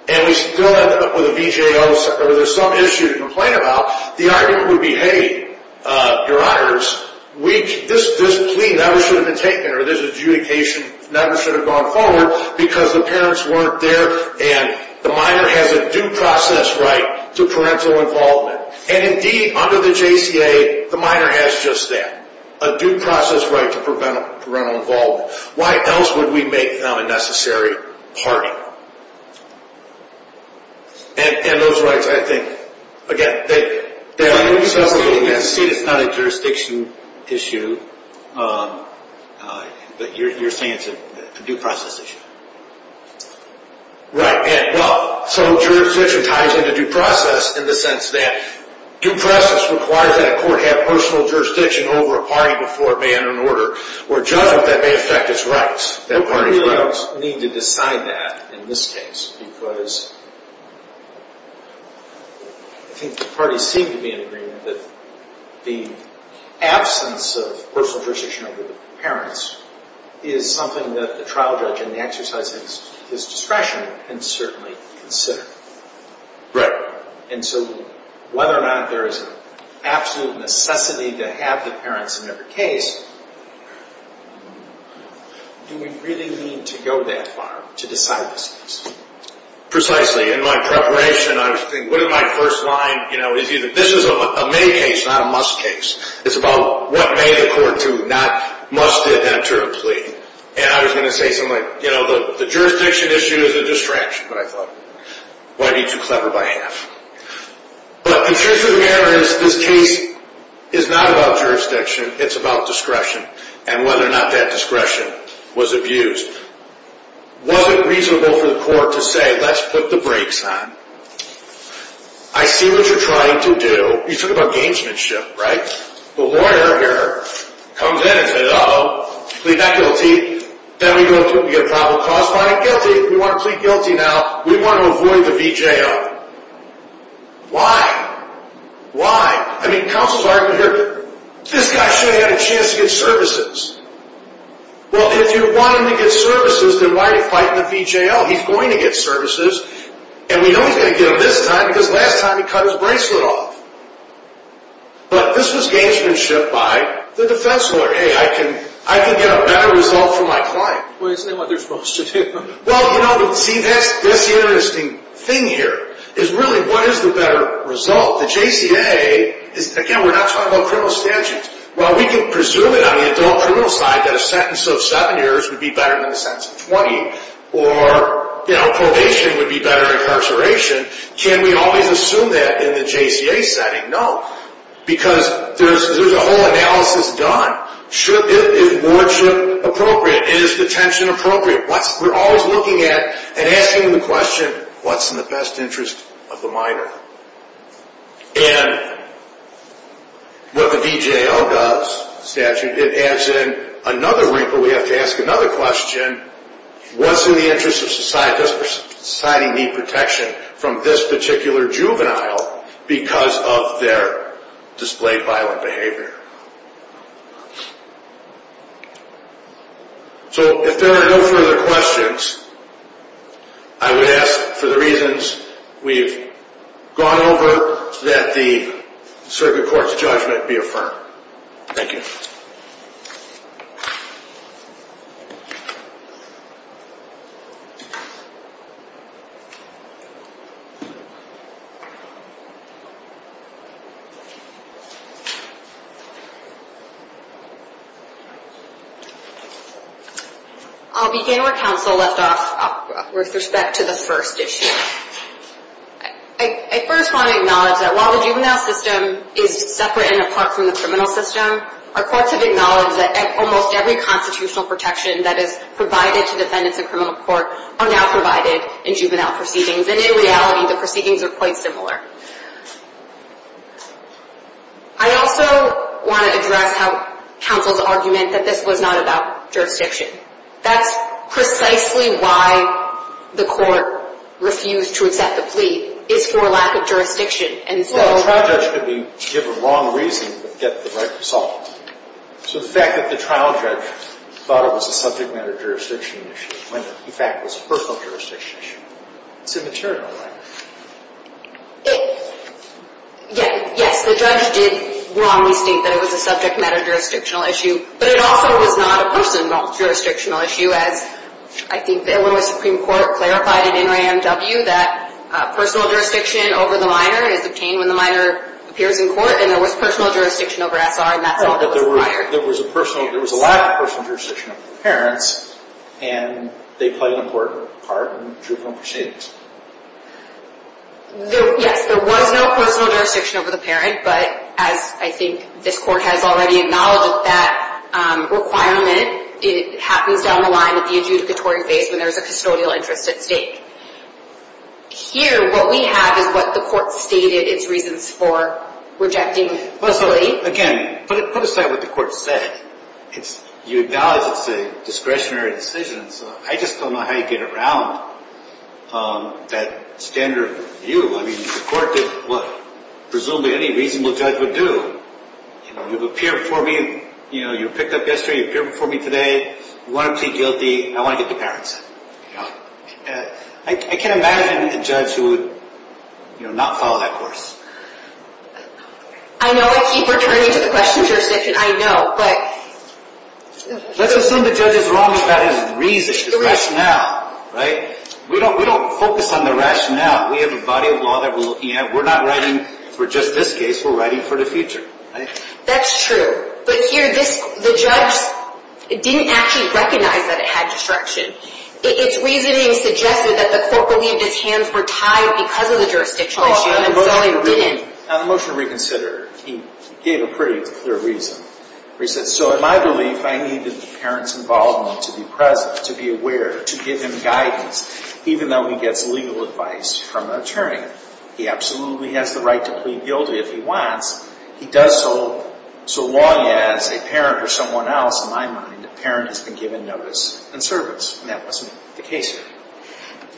and we still end up with a VJO, or there's some issue to complain about, the argument would be, hey, your honors, this plea never should have been taken, or this adjudication never should have gone forward because the parents weren't there, and the minor has a due process right to parental involvement. And indeed, under the JCA, the minor has just that, a due process right to parental involvement. Why else would we make them a necessary party? And those rights, I think, again, it's not a jurisdiction issue, but you're saying it's a due process issue. Right, and well, so jurisdiction ties into due process in the sense that due process requires that a court have personal jurisdiction over a party before it may enter an order, or a judgment that may affect its rights, that party's rights. We don't need to decide that in this case because I think the parties seem to be in agreement that the absence of personal jurisdiction over the parents is something that the trial judge in the exercise of his discretion can certainly consider. Right. And so whether or not there is an absolute necessity to have the parents in every case, do we really need to go that far to decide this case? Precisely. In my preparation, I was thinking, what is my first line? You know, this is a may case, not a must case. It's about what may the court do, not must it enter a plea. And I was going to say something like, you know, the jurisdiction issue is a distraction, but I thought, why be too clever by half? But the truth of the matter is, this case is not about jurisdiction. It's about discretion and whether or not that discretion was abused. Was it reasonable for the court to say, let's put the brakes on? I see what you're trying to do. You're talking about gamesmanship, right? The lawyer here comes in and says, uh-oh, plead not guilty. Then we go and get a probable cause, find it guilty. We want to plead guilty now. We want to avoid the VJL. Why? Why? I mean, counsel's argument here, this guy should have had a chance to get services. Well, if you want him to get services, then why are you fighting the VJL? He's going to get services. And we know he's going to get them this time because last time he cut his bracelet off. But this was gamesmanship by the defense lawyer. Hey, I can get a better result for my client. Well, isn't that what they're supposed to do? Well, you know, see, that's the interesting thing here is really what is the better result? The JCA is, again, we're not talking about criminal statutes. While we can presume it on the adult criminal side that a sentence of seven years would be better than a sentence of 20, or, you know, probation would be better than incarceration, can we always assume that in the JCA setting? No, because there's a whole analysis done. Is wardship appropriate? Is detention appropriate? We're always looking at and asking the question, what's in the best interest of the minor? And what the VJL does, statute, it adds in another ring, but we have to ask another question. What's in the interest of society? Does society need protection from this particular juvenile because of their displayed violent behavior? So if there are no further questions, I would ask for the reasons we've gone over that the circuit court's judgment be affirmed. Thank you. I'll begin where counsel left off with respect to the first issue. I first want to acknowledge that while the juvenile system is separate and apart from the criminal system, our courts have acknowledged that almost every constitutional protection that is provided to defendants in criminal court are now provided by the juvenile court. And in reality, the proceedings are quite similar. I also want to address counsel's argument that this was not about jurisdiction. That's precisely why the court refused to accept the plea, is for lack of jurisdiction. Well, a trial judge could be given wrong reason but get the right result. So the fact that the trial judge thought it was a subject matter jurisdiction issue when in fact it was a personal jurisdiction issue, it's immaterial, right? Yes, the judge did wrongly state that it was a subject matter jurisdictional issue, but it also was not a personal jurisdictional issue as I think the Illinois Supreme Court clarified in NRAMW that personal jurisdiction over the minor is obtained when the minor appears in court, and there was personal jurisdiction over SR, and that's all that was required. There was a lack of personal jurisdiction over the parents, and they played an important part in the juvenile proceedings. Yes, there was no personal jurisdiction over the parent, but as I think this court has already acknowledged that requirement, it happens down the line at the adjudicatory phase when there's a custodial interest at stake. Here, what we have is what the court stated its reasons for rejecting the plea. Again, put aside what the court said. You acknowledge it's a discretionary decision, so I just don't know how you get around that standard view. I mean, the court did what presumably any reasonable judge would do. You know, you've appeared before me. You know, you were picked up yesterday. You appeared before me today. You want to plead guilty. I want to get the parents. I can't imagine a judge who would not follow that course. I know I keep returning to the question of jurisdiction. I know, but... Let's assume the judge is wrong about his reason, his rationale. Right? We don't focus on the rationale. We have a body of law that we're looking at. We're not writing for just this case. We're writing for the future. That's true, but here the judge didn't actually recognize that it had destruction. It's reasoning suggested that the court believed his hands were tied because of the jurisdiction, and so he didn't. On the motion to reconsider, he gave a pretty clear reason. He said, so in my belief, I needed the parent's involvement to be present, to be aware, to give him guidance, even though he gets legal advice from an attorney. He absolutely has the right to plead guilty if he wants. He does so long as a parent or someone else, in my mind, a parent has been given notice and service, and that wasn't the case here.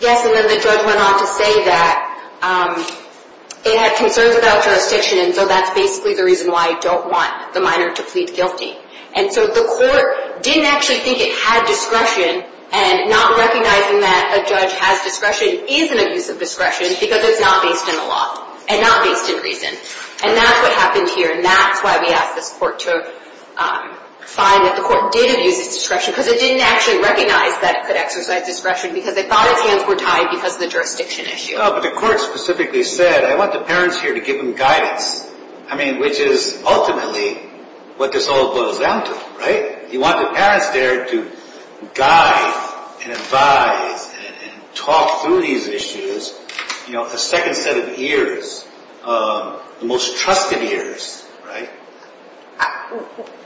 Yes, and then the judge went on to say that it had concerns about jurisdiction, and so that's basically the reason why I don't want the minor to plead guilty. And so the court didn't actually think it had discretion, and not recognizing that a judge has discretion is an abuse of discretion because it's not based in the law and not based in reason. And that's what happened here, and that's why we asked this court to find that the court did abuse its discretion because it didn't actually recognize that it could exercise discretion because they thought its hands were tied because of the jurisdiction issue. But the court specifically said, I want the parents here to give them guidance, which is ultimately what this all boils down to, right? You want the parents there to guide and advise and talk through these issues. The second set of ears, the most trusted ears, right?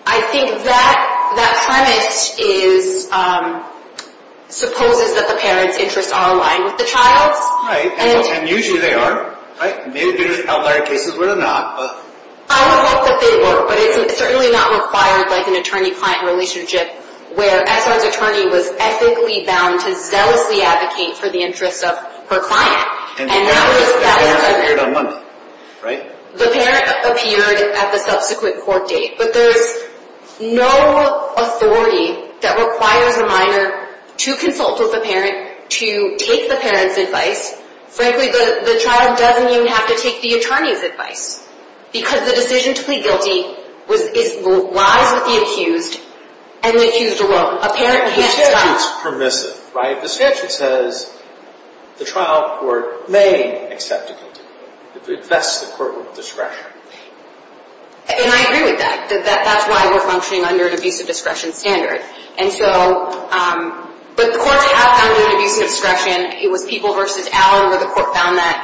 I think that premise supposes that the parents' interests are aligned with the child's. Right, and usually they are, right? It may have been in outlier cases where they're not. I would hope that they were, but it's certainly not required like an attorney-client relationship where SR's attorney was ethically bound to zealously advocate for the interests of her client. And the parent appeared on Monday, right? The parent appeared at the subsequent court date, but there's no authority that requires a minor to consult with the parent to take the parent's advice. Frankly, the child doesn't even have to take the attorney's advice because the decision to plead guilty lies with the accused, and the accused alone. The statute's permissive, right? The statute says the trial court may accept a guilty plea. It vests the court with discretion. And I agree with that. That's why we're functioning under an abuse of discretion standard. But the courts have found an abuse of discretion. It was People v. Allen where the court found that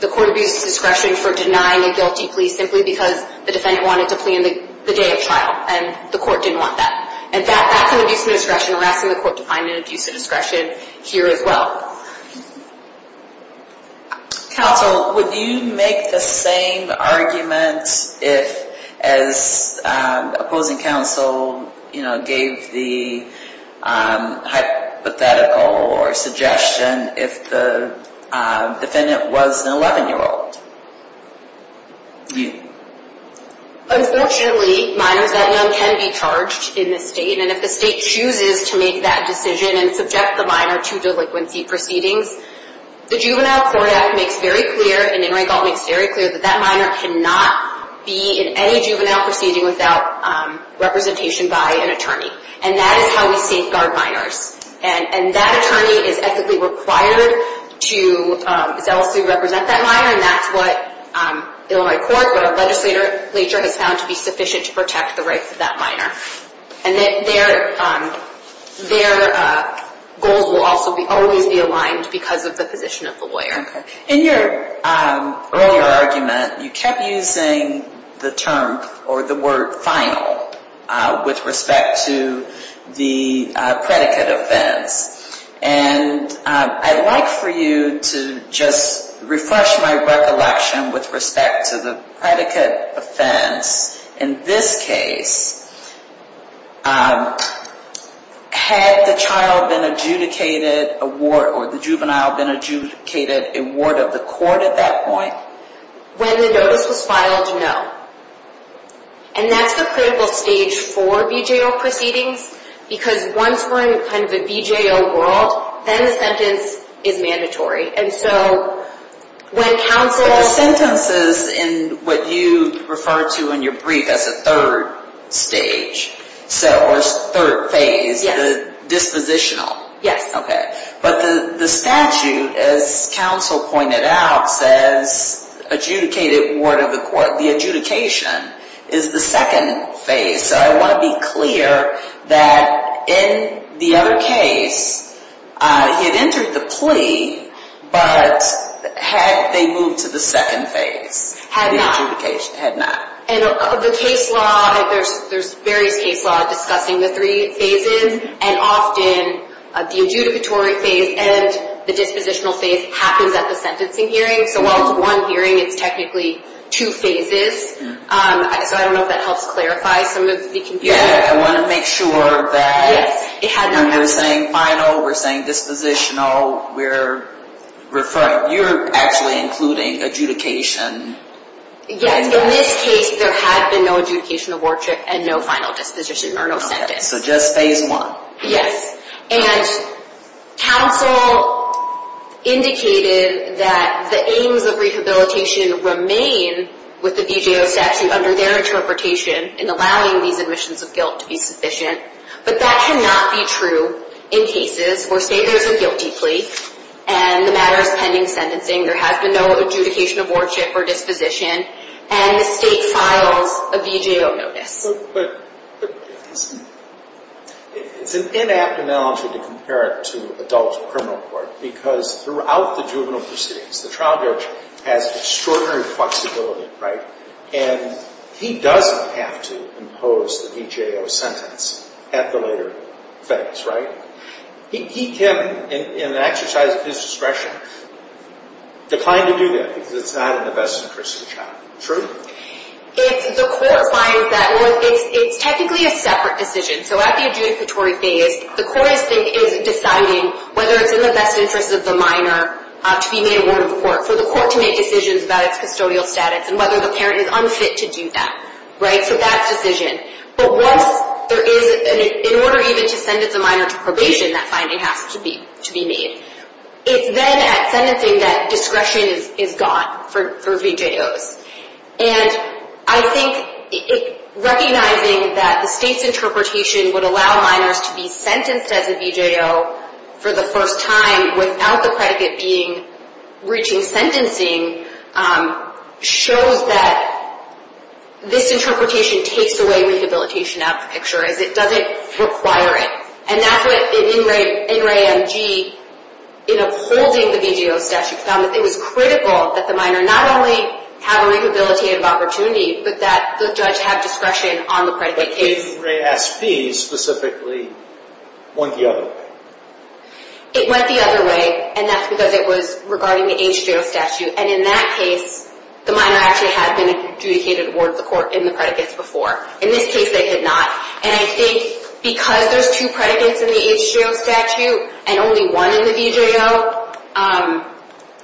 the court abused discretion for denying a guilty plea simply because the defendant wanted to plead on the day of trial. And the court didn't want that. And that's an abuse of discretion. We're asking the court to find an abuse of discretion here as well. Counsel, would you make the same argument as opposing counsel gave the hypothetical or suggestion if the defendant was an 11-year-old? Unfortunately, minors that young can be charged in this state. And if the state chooses to make that decision and subject the minor to delinquency proceedings, the Juvenile Court Act makes very clear, and In re Gault makes very clear, that that minor cannot be in any juvenile proceeding without representation by an attorney. And that is how we safeguard minors. And that attorney is ethically required to zealously represent that minor, and that's what Illinois Court, what our legislature has found to be sufficient to protect the rights of that minor. And their goals will also always be aligned because of the position of the lawyer. In your earlier argument, you kept using the term or the word final with respect to the predicate offense. And I'd like for you to just refresh my recollection with respect to the predicate offense. In this case, had the child been adjudicated a ward or the juvenile been adjudicated a ward of the court at that point? When the notice was filed, no. And that's the critical stage for VJO proceedings because once we're in kind of a VJO world, then the sentence is mandatory. And so when counsel... But the sentences in what you refer to in your brief as a third stage, or third phase, the dispositional. Yes. Okay. But the statute, as counsel pointed out, says adjudicated ward of the court. The adjudication is the second phase. So I want to be clear that in the other case, he had entered the plea, but had they moved to the second phase? Had not. The adjudication. Had not. And the case law, there's various case law discussing the three phases, and often the adjudicatory phase and the dispositional phase happens at the sentencing hearing. So while it's one hearing, it's technically two phases. So I don't know if that helps clarify some of the confusion. I want to make sure that we're saying final, we're saying dispositional, we're referring. You're actually including adjudication. Yes. In this case, there had been no adjudication of wardship and no final disposition or no sentence. So just phase one. Yes. And counsel indicated that the aims of rehabilitation remain with the VJO statute under their interpretation in allowing these admissions of guilt to be sufficient. But that cannot be true in cases where, say, there's a guilty plea and the matter is pending sentencing, there has been no adjudication of wardship or disposition, and the state files a VJO notice. But it's an inapt analogy to compare it to adult criminal court because throughout the juvenile proceedings, the trial judge has extraordinary flexibility, right? And he doesn't have to impose the VJO sentence at the later phase, right? He can, in an exercise of his discretion, decline to do that because it's not in the best interest of the child. True? If the court finds that, well, it's technically a separate decision. So at the adjudicatory phase, the court is deciding whether it's in the best interest of the minor to be made a ward of the court, for the court to make decisions about its custodial status and whether the parent is unfit to do that, right? So that's decision. But once there is, in order even to sentence a minor to probation, that finding has to be made. It's then at sentencing that discretion is gone for VJOs. And I think recognizing that the state's interpretation would allow minors to be sentenced as a VJO for the first time without the predicate being reaching sentencing shows that this interpretation takes away rehabilitation out of the picture, as it doesn't require it. And that's what NRA MG, in upholding the VJO statute, found that it was critical that the minor not only have a rehabilitative opportunity, but that the judge have discretion on the predicate case. But didn't NRA SP specifically point the other way? It went the other way, and that's because it was regarding the HJO statute. And in that case, the minor actually had been adjudicated a ward of the court in the predicates before. In this case, they had not. And I think because there's two predicates in the HJO statute and only one in the VJO,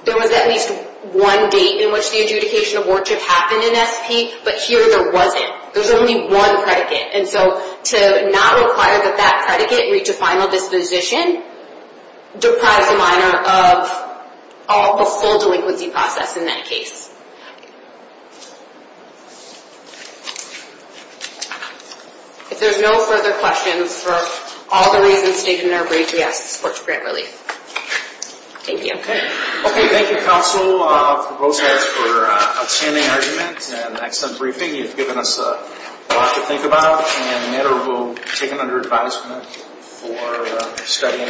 there was at least one date in which the adjudication of wardship happened in SP, but here there wasn't. There's only one predicate. And so to not require that that predicate reach a final disposition deprives a minor of a full delinquency process in that case. If there's no further questions, for all the reasons stated in our brief, we ask the court to grant relief. Thank you. Thank you, counsel, for outstanding arguments and an excellent briefing. You've given us a lot to think about, and the minor will be taken under advisement for studying.